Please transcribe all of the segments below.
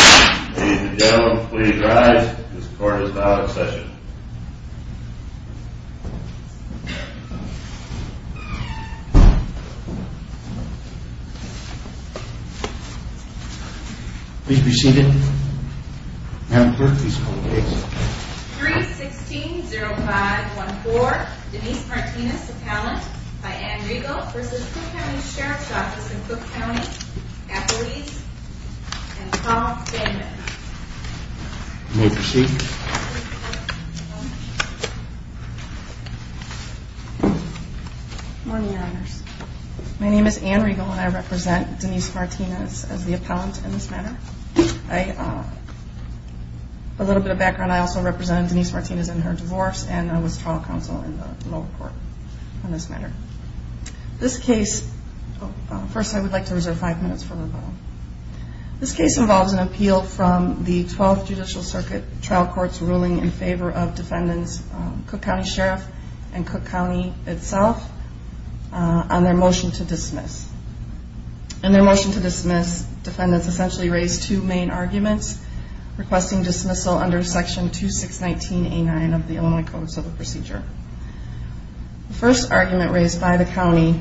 Ladies and gentlemen, please rise. This court is now in session. Please be seated. Madam Clerk, please call the case. 3-16-0514. Denise Martinez, appellant. My name is Anne Regal and I represent Denise Martinez as the appellant in this matter. A little bit of background, I also represent Denise Martinez in her divorce and I was trial counsel in the lower court in this matter. This case, first I would like to reserve five minutes for rebuttal. This case involves an appeal from the 12th Judicial Circuit trial court's ruling in favor of defendants Cook County Sheriff and Cook County itself on their motion to dismiss. In their motion to dismiss, defendants essentially raised two main arguments requesting dismissal under section 2619A9 of the Illinois Code of Civil Procedure. The first argument raised by the county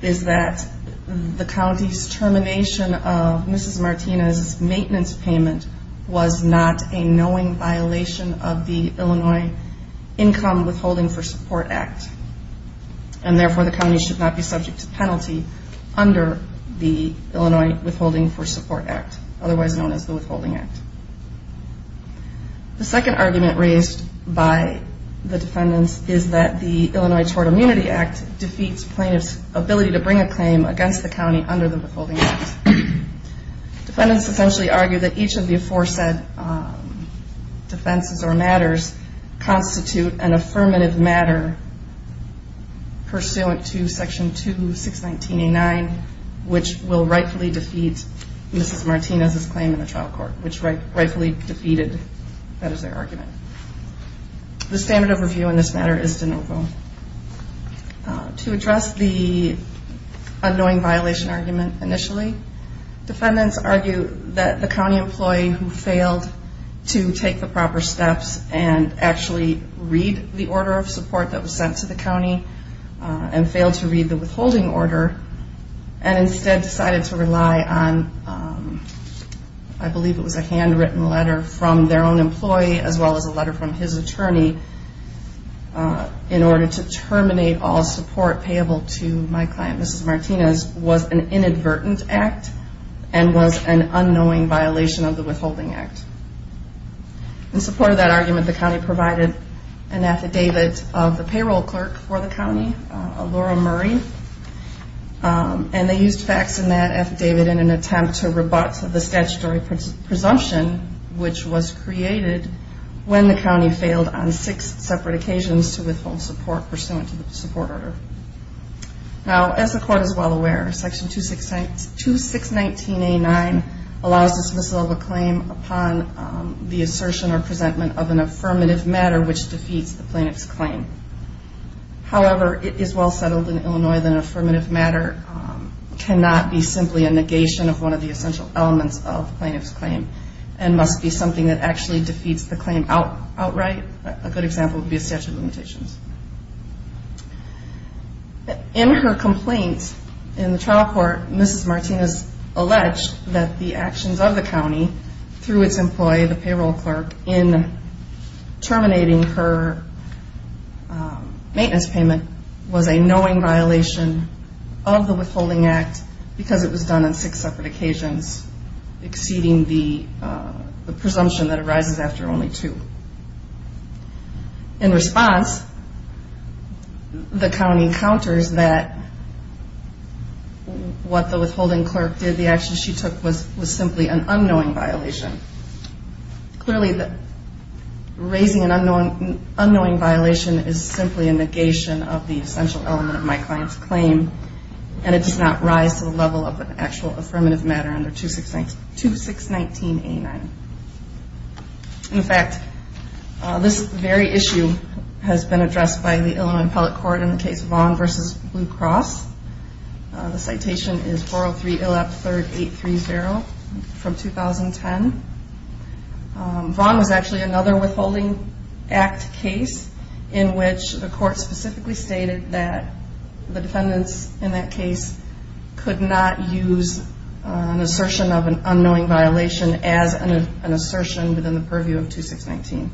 is that the county's termination of Mrs. Martinez' maintenance payment was not a knowing violation of the Illinois Income Withholding for Support Act and therefore the county should not be subject to penalty under the Illinois Withholding for Support Act, otherwise known as the Withholding Act. The second argument raised by the defendants is that the Illinois Tort Immunity Act defeats plaintiffs' ability to bring a claim against the county under the Withholding Act. Defendants essentially argue that each of the aforesaid defenses or matters constitute an affirmative matter pursuant to section 2619A9 which will rightfully defeat Mrs. Martinez' claim in the trial court, which rightfully defeated that as their argument. The standard of review in this matter is de novo. To address the unknowing violation argument initially, defendants argue that the county employee who failed to take the proper steps and actually read the order of support that was sent to the county and failed to read the withholding order and instead decided to rely on, I believe it was a handwritten letter from their own employee as well as a letter from his attorney in order to terminate all support payable to my client Mrs. Martinez was an inadvertent act and was an unknowing violation of the Withholding Act. In support of that argument, the county provided an affidavit of the payroll clerk for the county, Laura Murray, and they used facts in that affidavit in an attempt to rebut the statutory presumption which was created when the county failed on six separate occasions to withhold support pursuant to the support order. Now as the court is well aware, section 2619A9 allows the dismissal of a claim upon the assertion or presentment of an affirmative matter which defeats the plaintiff's claim. However, it is well settled in Illinois that an affirmative matter cannot be simply a negation of one of the essential elements of the plaintiff's claim and must be something that actually defeats the claim outright. In her complaint in the trial court, Mrs. Martinez alleged that the actions of the county through its employee, the payroll clerk, in terminating her maintenance payment was a knowing violation of the Withholding Act because it was done on six separate occasions exceeding the presumption that arises after only two. In response, the county counters that what the withholding clerk did, the actions she took, was simply an unknowing violation. Clearly, raising an unknowing violation is simply a negation of the essential element of my client's claim and it does not rise to the level of an actual affirmative matter under 2619A9. In fact, this very issue has been addressed by the Illinois Appellate Court in the case Vaughn v. Blue Cross. The citation is 403 Ill App 3rd 830 from 2010. Vaughn was actually another Withholding Act case in which the court specifically stated that the defendants in that case could not use an assertion of an unknowing violation as an assertion within the purview of 2619.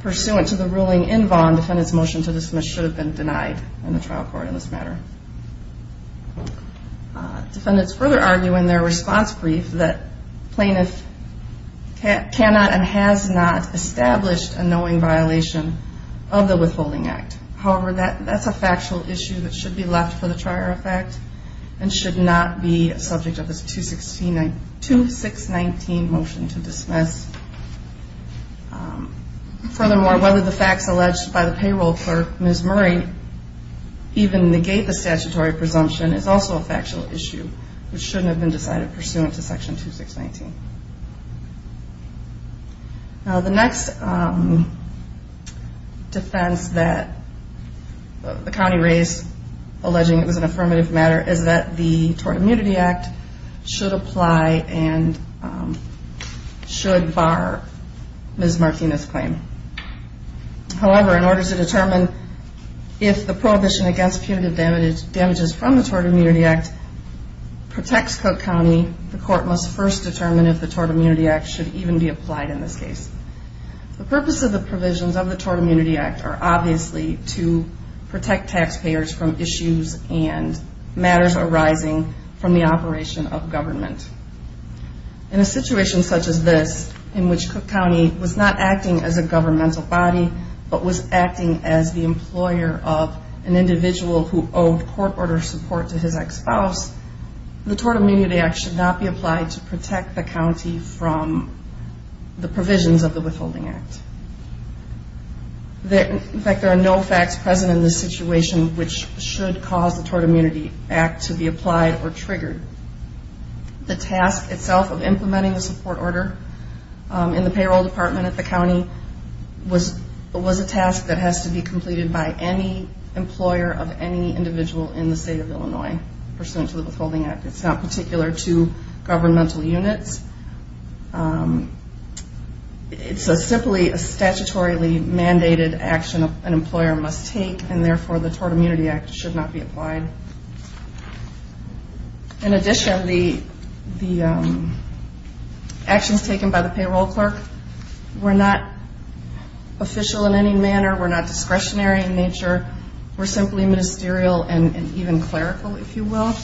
Pursuant to the ruling in Vaughn, defendants' motion to dismiss should have been denied in the trial court in this matter. Defendants further argue in their response brief that plaintiff cannot and has not established a knowing violation of the Withholding Act. However, that's a factual issue that should be left for the trial effect and should not be a subject of this 2619 motion to dismiss. Furthermore, whether the facts alleged by the payroll clerk, Ms. Murray, even negate the statutory presumption is also a factual issue which shouldn't have been decided pursuant to Section 2619. Now the next defense that the county raised alleging it was an affirmative matter is that the Tort Immunity Act should apply and should bar Ms. Martinez's claim. However, in order to determine if the prohibition against punitive damages from the Tort Immunity Act protects Cook County, the court must first determine if the Tort Immunity Act should even be applied in this case. The purpose of the provisions of the Tort Immunity Act are obviously to protect taxpayers from issues and matters arising from the operation of government. In a situation such as this, in which Cook County was not acting as a governmental body but was acting as the employer of an individual who owed court order support to his ex-spouse, the Tort Immunity Act should not be applied to protect the county from the provisions of the Withholding Act. In fact, there are no facts present in this situation which should cause the Tort Immunity Act to be applied or triggered. The task itself of implementing the support order in the payroll department at the county was a task that has to be completed by any employer of any individual in the state of Illinois pursuant to the Withholding Act. It's not particular to governmental units. It's simply a statutorily mandated action an employer must take, and therefore the Tort Immunity Act should not be applied. In addition, the actions taken by the payroll clerk were not official in any manner. We're not discretionary in nature. We're simply ministerial and even clerical, if you will.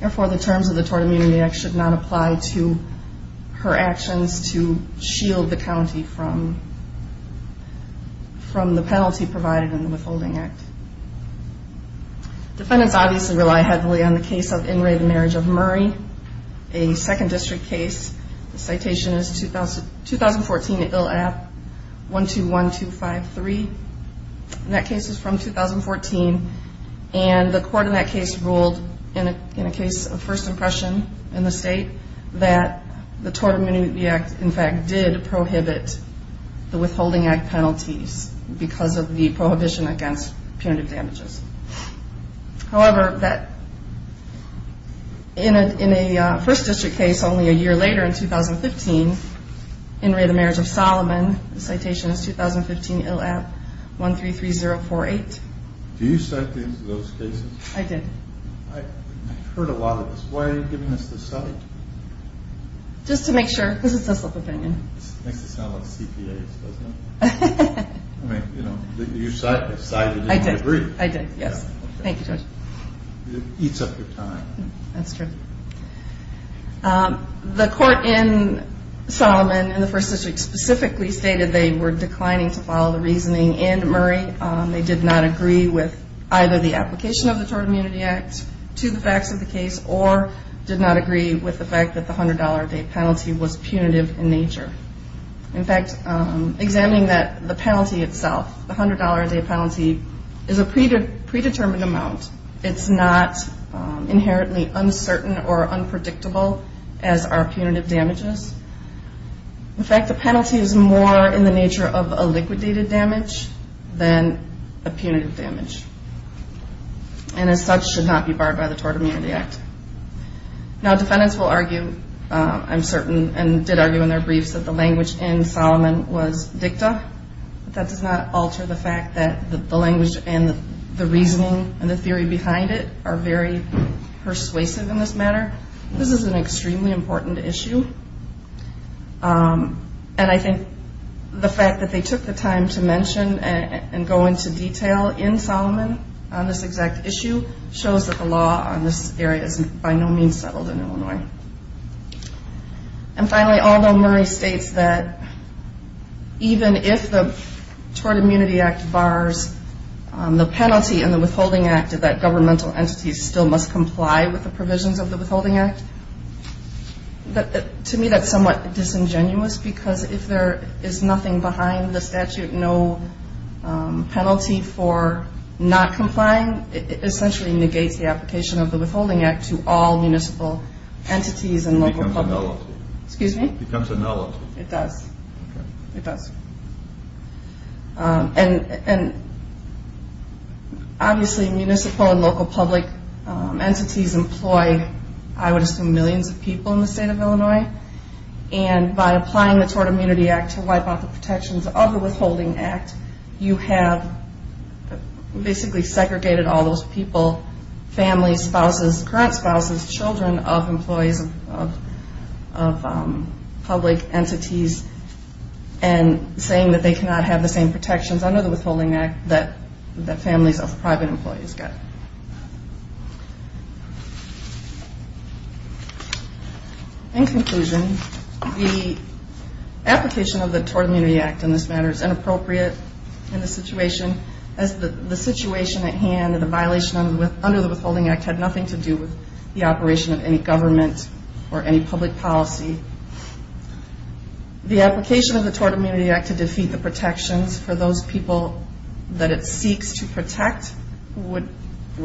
Therefore, the terms of the Tort Immunity Act should not apply to her actions to shield the county from the penalty provided in the Withholding Act. Defendants obviously rely heavily on the case of In Re, the Marriage of Murray, a second district case. The citation is 2014, ILAP 121253, and that case is from 2014. And the court in that case ruled in a case of first impression in the state that the Tort Immunity Act, in fact, did prohibit the Withholding Act penalties because of the prohibition against punitive damages. However, in a first district case only a year later in 2015, In Re, the Marriage of Solomon, the citation is 2015, ILAP 133048. Do you cite things in those cases? I did. I've heard a lot of this. Why are you giving us this cite? Just to make sure, because it's a slip of the pen. It makes it sound like CPAs, doesn't it? I mean, you cited it and you agreed. I did, yes. Thank you, Judge. It eats up your time. That's true. The court in Solomon, in the first district, specifically stated they were declining to follow the reasoning in Murray. They did not agree with either the application of the Tort Immunity Act to the facts of the case or did not agree with the fact that the $100-a-day penalty was punitive in nature. In fact, examining the penalty itself, the $100-a-day penalty, is a predetermined amount. It's not inherently uncertain or unpredictable as are punitive damages. In fact, the penalty is more in the nature of a liquidated damage than a punitive damage and as such should not be barred by the Tort Immunity Act. Now, defendants will argue, I'm certain, and did argue in their briefs, that the language in Solomon was dicta, but that does not alter the fact that the language and the reasoning and the theory behind it are very persuasive in this matter. This is an extremely important issue, and I think the fact that they took the time to mention and go into detail in Solomon on this exact issue shows that the law on this area is by no means settled in Illinois. And finally, although Murray states that even if the Tort Immunity Act bars the penalty in the Withholding Act, that governmental entities still must comply with the provisions of the Withholding Act, to me that's somewhat disingenuous because if there is nothing behind the statute, no penalty for not complying, it essentially negates the application of the Withholding Act to all municipal entities and local public. It becomes a nullity. Excuse me? It becomes a nullity. It does. Okay. It does. And obviously municipal and local public entities employ, I would assume millions of people in the state of Illinois, and by applying the Tort Immunity Act to wipe out the protections of the Withholding Act, you have basically segregated all those people, families, spouses, current spouses, children of employees of public entities, and saying that they cannot have the same protections under the Withholding Act that families of private employees get. In conclusion, the application of the Tort Immunity Act in this matter is inappropriate in the situation, as the situation at hand and the violation under the Withholding Act had nothing to do with the operation of any government or any public policy. The application of the Tort Immunity Act to defeat the protections for those people that it seeks to protect would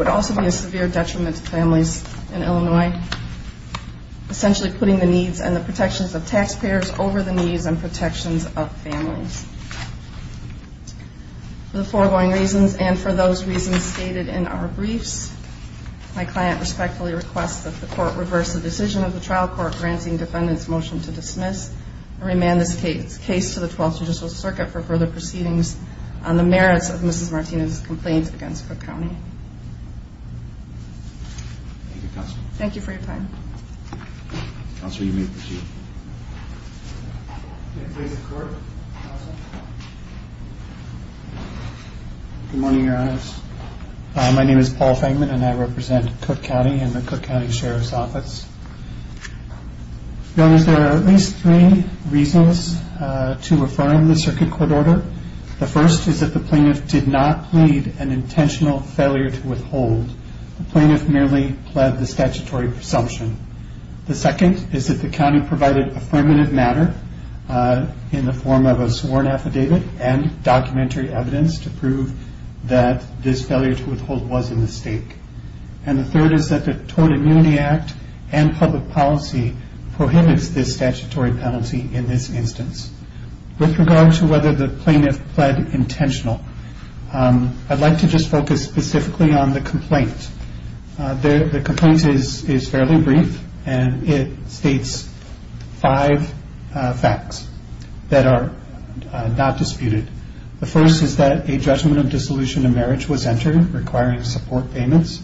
also be a severe detriment to families in Illinois, essentially putting the needs and the protections of taxpayers over the needs and protections of families. For the foregoing reasons and for those reasons stated in our briefs, my client respectfully requests that the Court reverse the decision of the trial court granting defendants' motion to dismiss and remand this case to the Twelfth Judicial Circuit for further proceedings on the merits of Mrs. Martinez's complaint against Cook County. Thank you, Counsel. Thank you for your time. Counsel, you may proceed. Good morning, Your Honors. My name is Paul Fengman, and I represent Cook County and the Cook County Sheriff's Office. Your Honors, there are at least three reasons to affirm the circuit court order. The first is that the plaintiff did not plead an intentional failure to withhold. The plaintiff merely pled the statutory presumption. The second is that the county provided affirmative matter in the form of a sworn affidavit and documentary evidence to prove that this failure to withhold was a mistake. And the third is that the Tote Immunity Act and public policy prohibits this statutory penalty in this instance. With regard to whether the plaintiff pled intentional, I'd like to just focus specifically on the complaint. The complaint is fairly brief, and it states five facts that are not disputed. The first is that a judgment of dissolution of marriage was entered requiring support payments.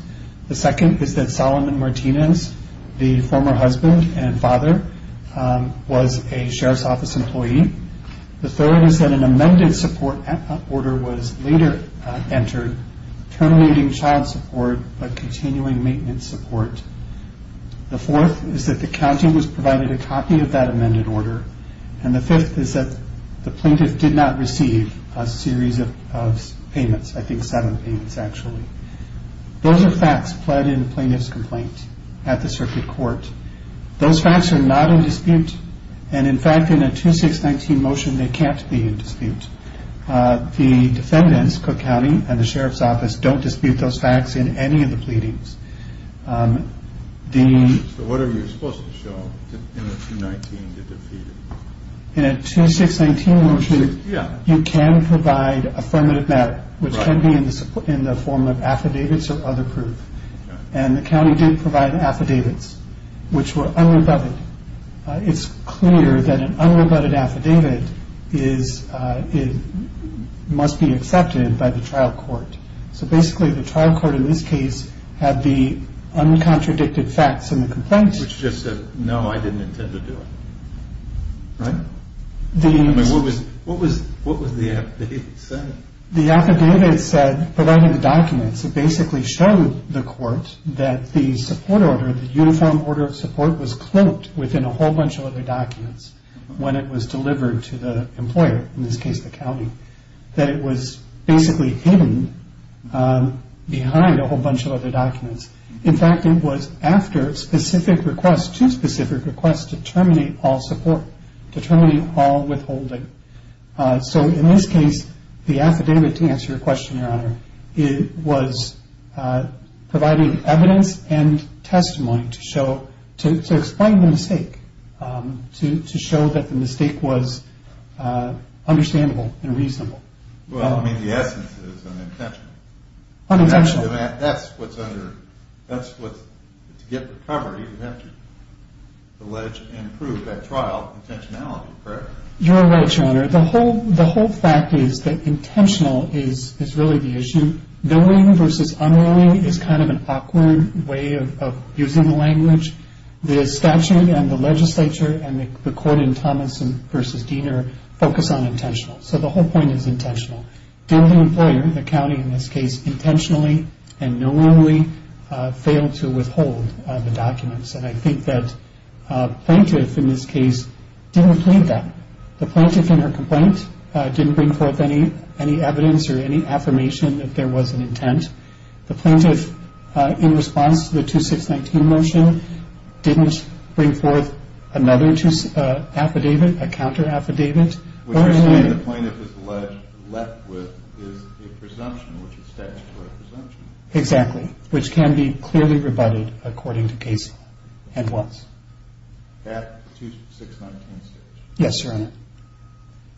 The second is that Solomon Martinez, the former husband and father, was a Sheriff's Office employee. The third is that an amended support order was later entered terminating child support but continuing maintenance support. The fourth is that the county was provided a copy of that amended order. And the fifth is that the plaintiff did not receive a series of payments, I think seven payments actually. Those are facts pled in the plaintiff's complaint at the circuit court. Those facts are not in dispute, and in fact in a 2619 motion they can't be in dispute. The defendants, Cook County and the Sheriff's Office, don't dispute those facts in any of the pleadings. So what are you supposed to show in the 219 to defeat it? In a 2619 motion, you can provide affirmative matter, which can be in the form of affidavits or other proof. And the county did provide affidavits, which were unrebutted. It's clear that an unrebutted affidavit must be accepted by the trial court. So basically the trial court in this case had the uncontradicted facts in the complaint. Which just said, no, I didn't intend to do it. Right? I mean, what was the affidavit saying? The affidavit said, providing the documents, it basically showed the court that the support order, the uniform order of support was cloaked within a whole bunch of other documents when it was delivered to the employer, in this case the county. That it was basically hidden behind a whole bunch of other documents. In fact, it was after specific requests, too specific requests, to terminate all support, to terminate all withholding. So in this case, the affidavit, to answer your question, Your Honor, it was providing evidence and testimony to show, to explain the mistake, to show that the mistake was understandable and reasonable. Well, I mean, the essence is unintentional. Unintentional. That's what's under, that's what, to get recovery, you have to allege and prove that trial intentionality, correct? You're right, Your Honor. The whole fact is that intentional is really the issue. Knowing versus unknowing is kind of an awkward way of using the language. The statute and the legislature and the court in Thomas v. Diener focus on intentional. So the whole point is intentional. Did the employer, the county in this case, intentionally and knowingly fail to withhold the documents? And I think that plaintiff in this case didn't plead that. The plaintiff in her complaint didn't bring forth any evidence or any affirmation that there was an intent. The plaintiff, in response to the 2619 motion, didn't bring forth another affidavit, a counter affidavit. What you're saying the plaintiff is left with is a presumption, which is statutory presumption. Exactly, which can be clearly rebutted according to case law. And what? That 2619 statute. Yes, Your Honor.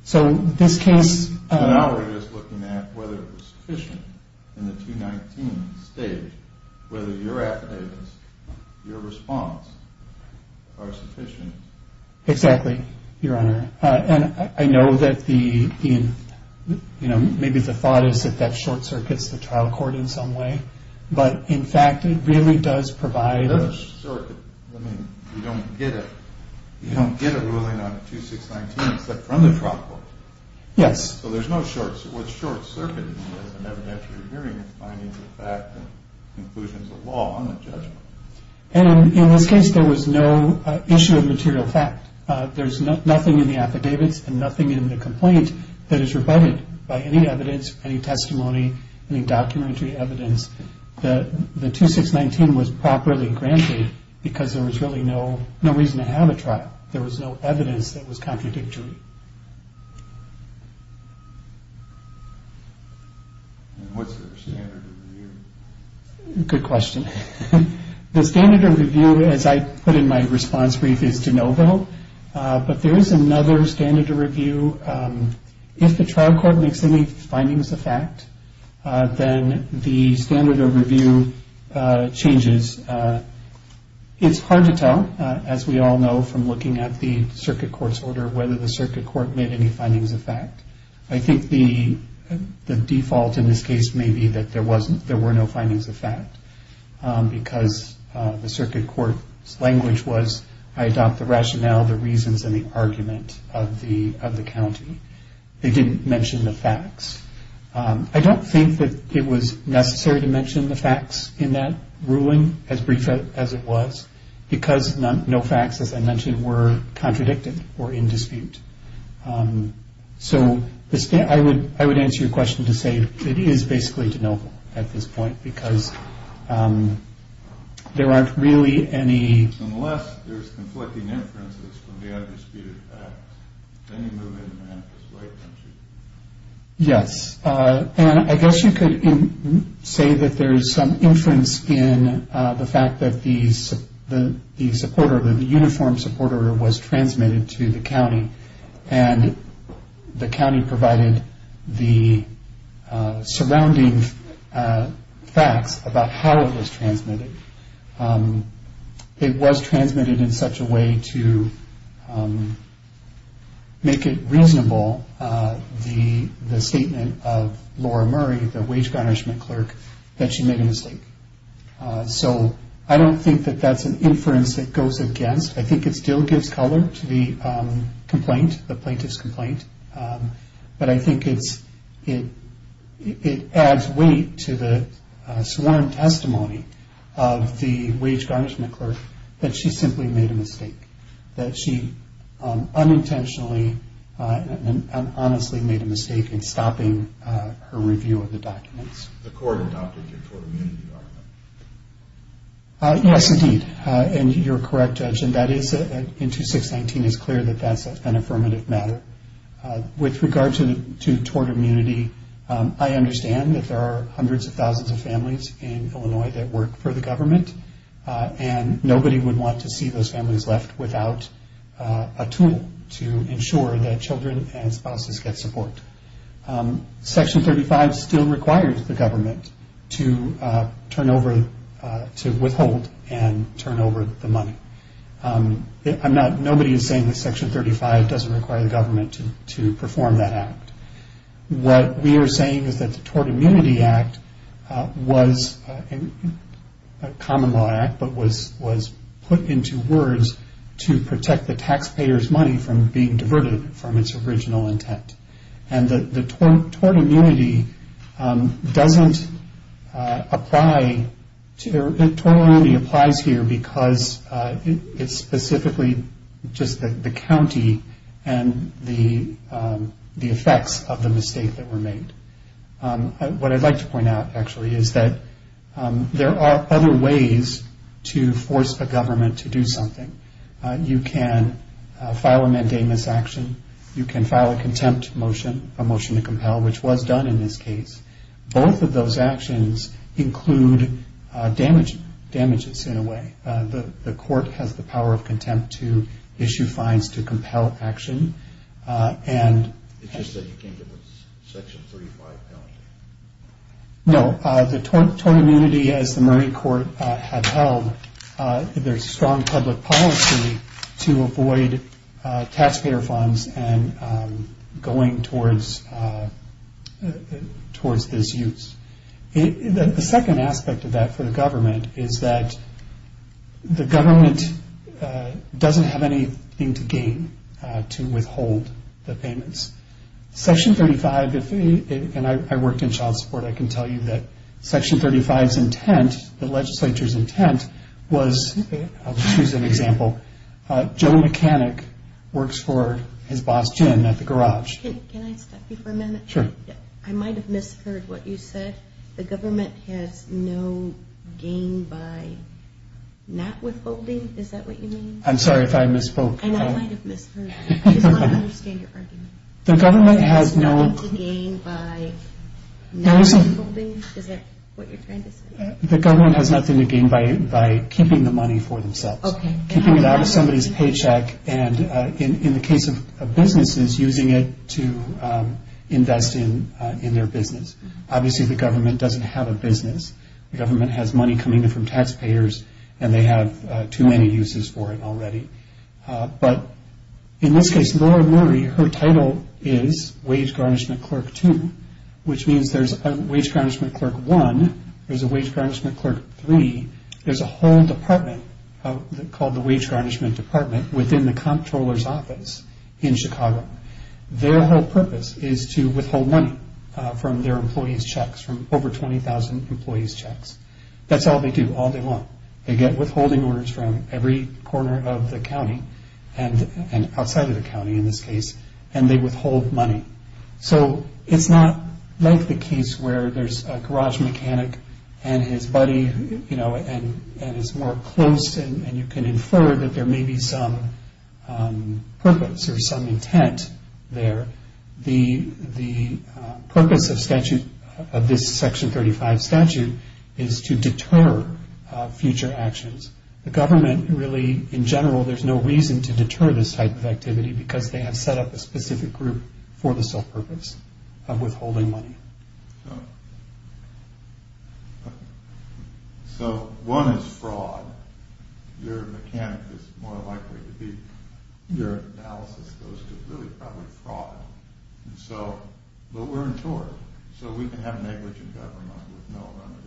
So this case... I was looking at whether it was sufficient in the 219 state whether your affidavits, your response, are sufficient. Exactly, Your Honor. And I know that maybe the thought is that that short circuit is the trial court in some way. But, in fact, it really does provide a... A short circuit. I mean, you don't get a ruling on 2619 except from the trial court. Yes. So there's no short circuit. What's short circuit is an evidentiary hearing of findings of fact and conclusions of law on the judgment. And, in this case, there was no issue of material fact. There's nothing in the affidavits and nothing in the complaint that is rebutted by any evidence, any testimony, any documentary evidence that the 2619 was properly granted because there was really no reason to have a trial. There was no evidence that was contradictory. And what's the standard of review? Good question. The standard of review, as I put in my response brief, is de novo. But there is another standard of review. If the trial court makes any findings of fact, then the standard of review changes. It's hard to tell, as we all know from looking at the circuit court's order, whether the circuit court made any findings of fact. I think the default in this case may be that there were no findings of fact because the circuit court's language was, I adopt the rationale, the reasons, and the argument of the county. They didn't mention the facts. I don't think that it was necessary to mention the facts in that ruling, as brief as it was, because no facts, as I mentioned, were contradicted or in dispute. So I would answer your question to say it is basically de novo at this point because there aren't really any... Unless there's conflicting inferences from the undisputed facts, then you move it in the right direction. Yes. And I guess you could say that there's some inference in the fact that the support order, the uniform support order, was transmitted to the county and the county provided the surrounding facts about how it was transmitted. It was transmitted in such a way to make it reasonable, the statement of Laura Murray, the wage garnishment clerk, that she made a mistake. So I don't think that that's an inference that goes against. I think it still gives color to the complaint, the plaintiff's complaint, but I think it adds weight to the sworn testimony of the wage garnishment clerk that she simply made a mistake, that she unintentionally and honestly made a mistake in stopping her review of the documents. The court adopted your tort immunity document. In 2619, it's clear that that's an affirmative matter. With regard to tort immunity, I understand that there are hundreds of thousands of families in Illinois that work for the government, and nobody would want to see those families left without a tool to ensure that children and spouses get support. Section 35 still requires the government to withhold and turn over the money. Nobody is saying that Section 35 doesn't require the government to perform that act. What we are saying is that the Tort Immunity Act was a common law act, but was put into words to protect the taxpayer's money from being diverted from its original intent. And the tort immunity doesn't apply, the tort immunity applies here because it's specifically just the county and the effects of the mistake that were made. What I'd like to point out, actually, is that there are other ways to force a government to do something. You can file a mandamus action. You can file a contempt motion, a motion to compel, which was done in this case. Both of those actions include damages in a way. The court has the power of contempt to issue fines to compel action. It's just that you can't do it with Section 35 penalty. No. The tort immunity, as the Murray Court had held, there's strong public policy to avoid taxpayer funds and going towards disuse. The second aspect of that for the government is that the government doesn't have anything to gain to withhold the payments. Section 35, and I worked in child support, I can tell you that Section 35's intent, the legislature's intent was, I'll just use an example. Joe Mechanic works for his boss, Jim, at the garage. Can I stop you for a minute? Sure. I might have misheard what you said. The government has no gain by not withholding? Is that what you mean? I'm sorry if I misspoke. And I might have misheard. I just want to understand your argument. The government has no... Has nothing to gain by not withholding? Is that what you're trying to say? The government has nothing to gain by keeping the money for themselves. Keeping it out of somebody's paycheck and, in the case of businesses, using it to invest in their business. Obviously, the government doesn't have a business. The government has money coming in from taxpayers, and they have too many uses for it already. But in this case, Laura Murray, her title is wage garnishment clerk two, which means there's a wage garnishment clerk one. There's a wage garnishment clerk three. There's a whole department called the wage garnishment department within the comptroller's office in Chicago. Their whole purpose is to withhold money from their employees' checks, from over 20,000 employees' checks. That's all they do, all day long. They get withholding orders from every corner of the county, and outside of the county in this case, and they withhold money. So it's not like the case where there's a garage mechanic and his buddy, and it's more close, and you can infer that there may be some purpose or some intent there. The purpose of statute, of this Section 35 statute, is to deter future actions. The government really, in general, there's no reason to deter this type of activity because they have set up a specific group for the sole purpose of withholding money. So one is fraud. Your mechanic is more likely to be. Your analysis goes to really probably fraud. So, but we're in charge, so we can have negligent government with no remedy,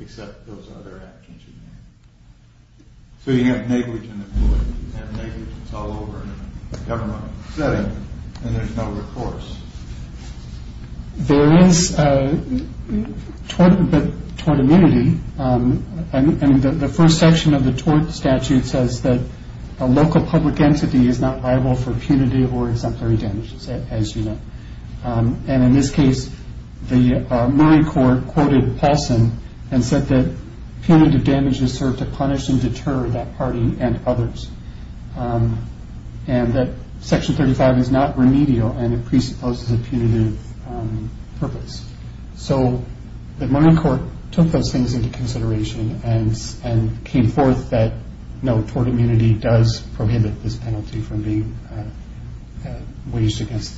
except those other actions you made. So you have negligent employees, and negligence all over a government setting, and there's no recourse. There is tort immunity, and the first section of the tort statute says that a local public entity is not liable for punitive or exemplary damages, as you know. And in this case, the Murray court quoted Paulson and said that punitive damages serve to punish and deter that party and others, and that Section 35 is not remedial, and it presupposes a punitive purpose. So the Murray court took those things into consideration and came forth that no, tort immunity does prohibit this penalty from being waged against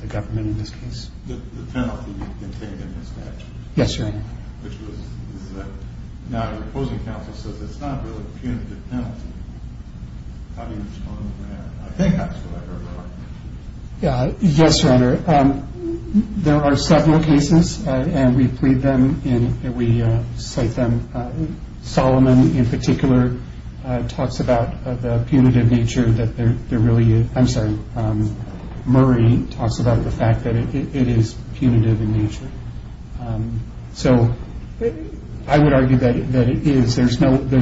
the government in this case. The penalty contained in the statute. Yes, Your Honor. Which was that now your opposing counsel says it's not really a punitive penalty. How do you respond to that? I think that's what I heard in the argument. Yes, Your Honor. There are several cases, and we plead them and we cite them. Solomon in particular talks about the punitive nature that there really is. I'm sorry, Murray talks about the fact that it is punitive in nature. So I would argue that it is. There's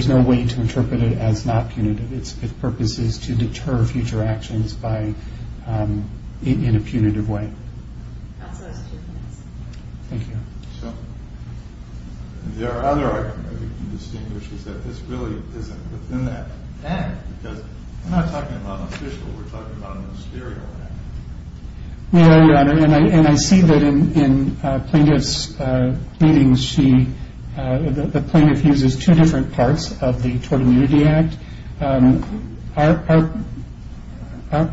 no way to interpret it as not punitive. Its purpose is to deter future actions in a punitive way. Thank you. There are other arguments that you can distinguish is that this really isn't within that. Because we're not talking about an official, we're talking about a ministerial act. No, Your Honor, and I see that in Plaintiff's pleadings, the plaintiff uses two different parts of the Tort Immunity Act.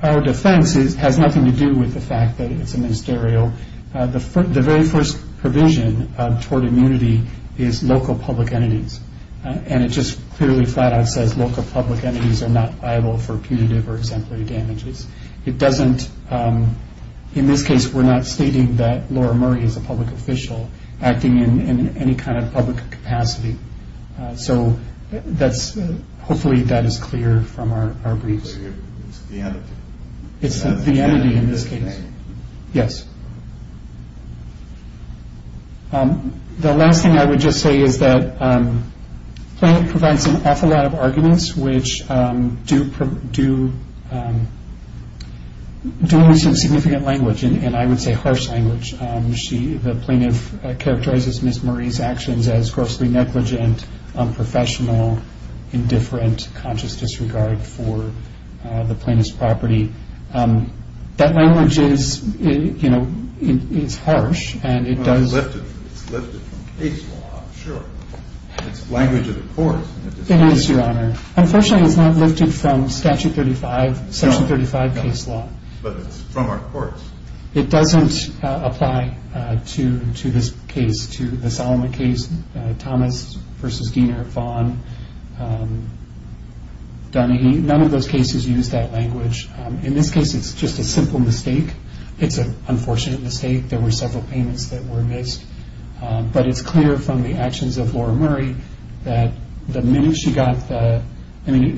Our defense has nothing to do with the fact that it's a ministerial. The very first provision of tort immunity is local public entities. And it just clearly flat out says local public entities are not liable for punitive or exemplary damages. It doesn't, in this case, we're not stating that Laura Murray is a public official acting in any kind of public capacity. So hopefully that is clear from our briefs. It's the entity. It's the entity in this case. Yes. The last thing I would just say is that plaintiff provides an awful lot of arguments which do use some significant language, and I would say harsh language. The plaintiff characterizes Ms. Murray's actions as grossly negligent, unprofessional, indifferent, conscious disregard for the plaintiff's property. That language is harsh, and it does... It's lifted from case law, I'm sure. It's language of the courts. It is, Your Honor. Unfortunately, it's not lifted from Statute 35, Section 35 case law. But it's from our courts. It doesn't apply to this case, to the Solomon case, Thomas v. Diener, Vaughn, Dunahee. None of those cases use that language. In this case, it's just a simple mistake. It's an unfortunate mistake. There were several payments that were missed. But it's clear from the actions of Laura Murray that the minute she got the... in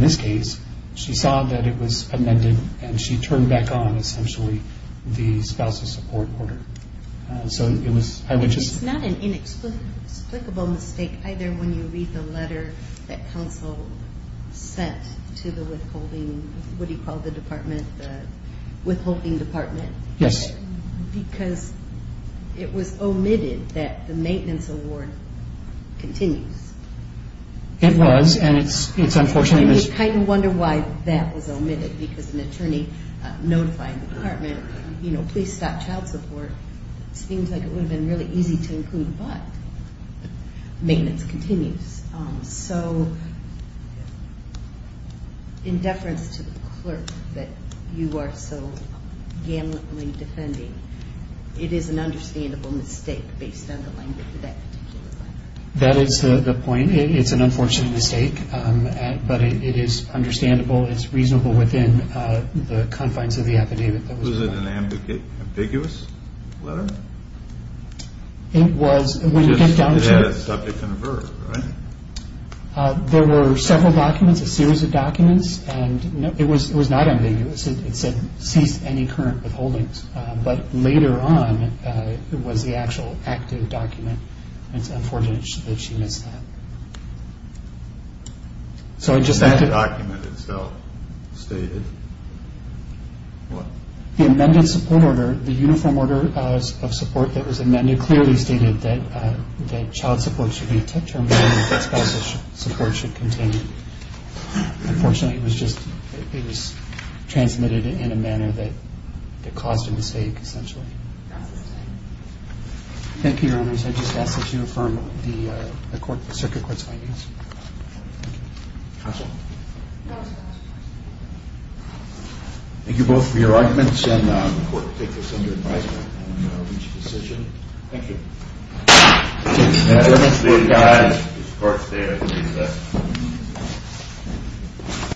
this case, she saw that it was amended, and she turned back on, essentially, the spousal support order. So it was... It's not an inexplicable mistake either when you read the letter that counsel sent to the withholding... what do you call the department, the withholding department? Yes. Because it was omitted that the maintenance award continues. It was, and it's unfortunately... And you kind of wonder why that was omitted, because an attorney notifying the department, you know, please stop child support, it seems like it would have been really easy to include, but maintenance continues. So in deference to the clerk that you are so gamutly defending, it is an understandable mistake based on the language of that particular letter. That is the point. It's an unfortunate mistake, but it is understandable. It's reasonable within the confines of the affidavit. Was it an ambiguous letter? It was. It had a subject and a verb, right? There were several documents, a series of documents, and it was not ambiguous. It said cease any current withholdings. But later on, it was the actual active document, and it's unfortunate that she missed that. That document itself stated what? The amended support order, the uniform order of support that was amended clearly stated that child support should be terminated, that spousal support should continue. Unfortunately, it was transmitted in a manner that caused a mistake, essentially. Thank you, Your Honors. I just ask that you affirm the circuit court's findings. Thank you both for your arguments, and the court will take this under advisement on each decision. Thank you. Thank you, guys. Court is adjourned.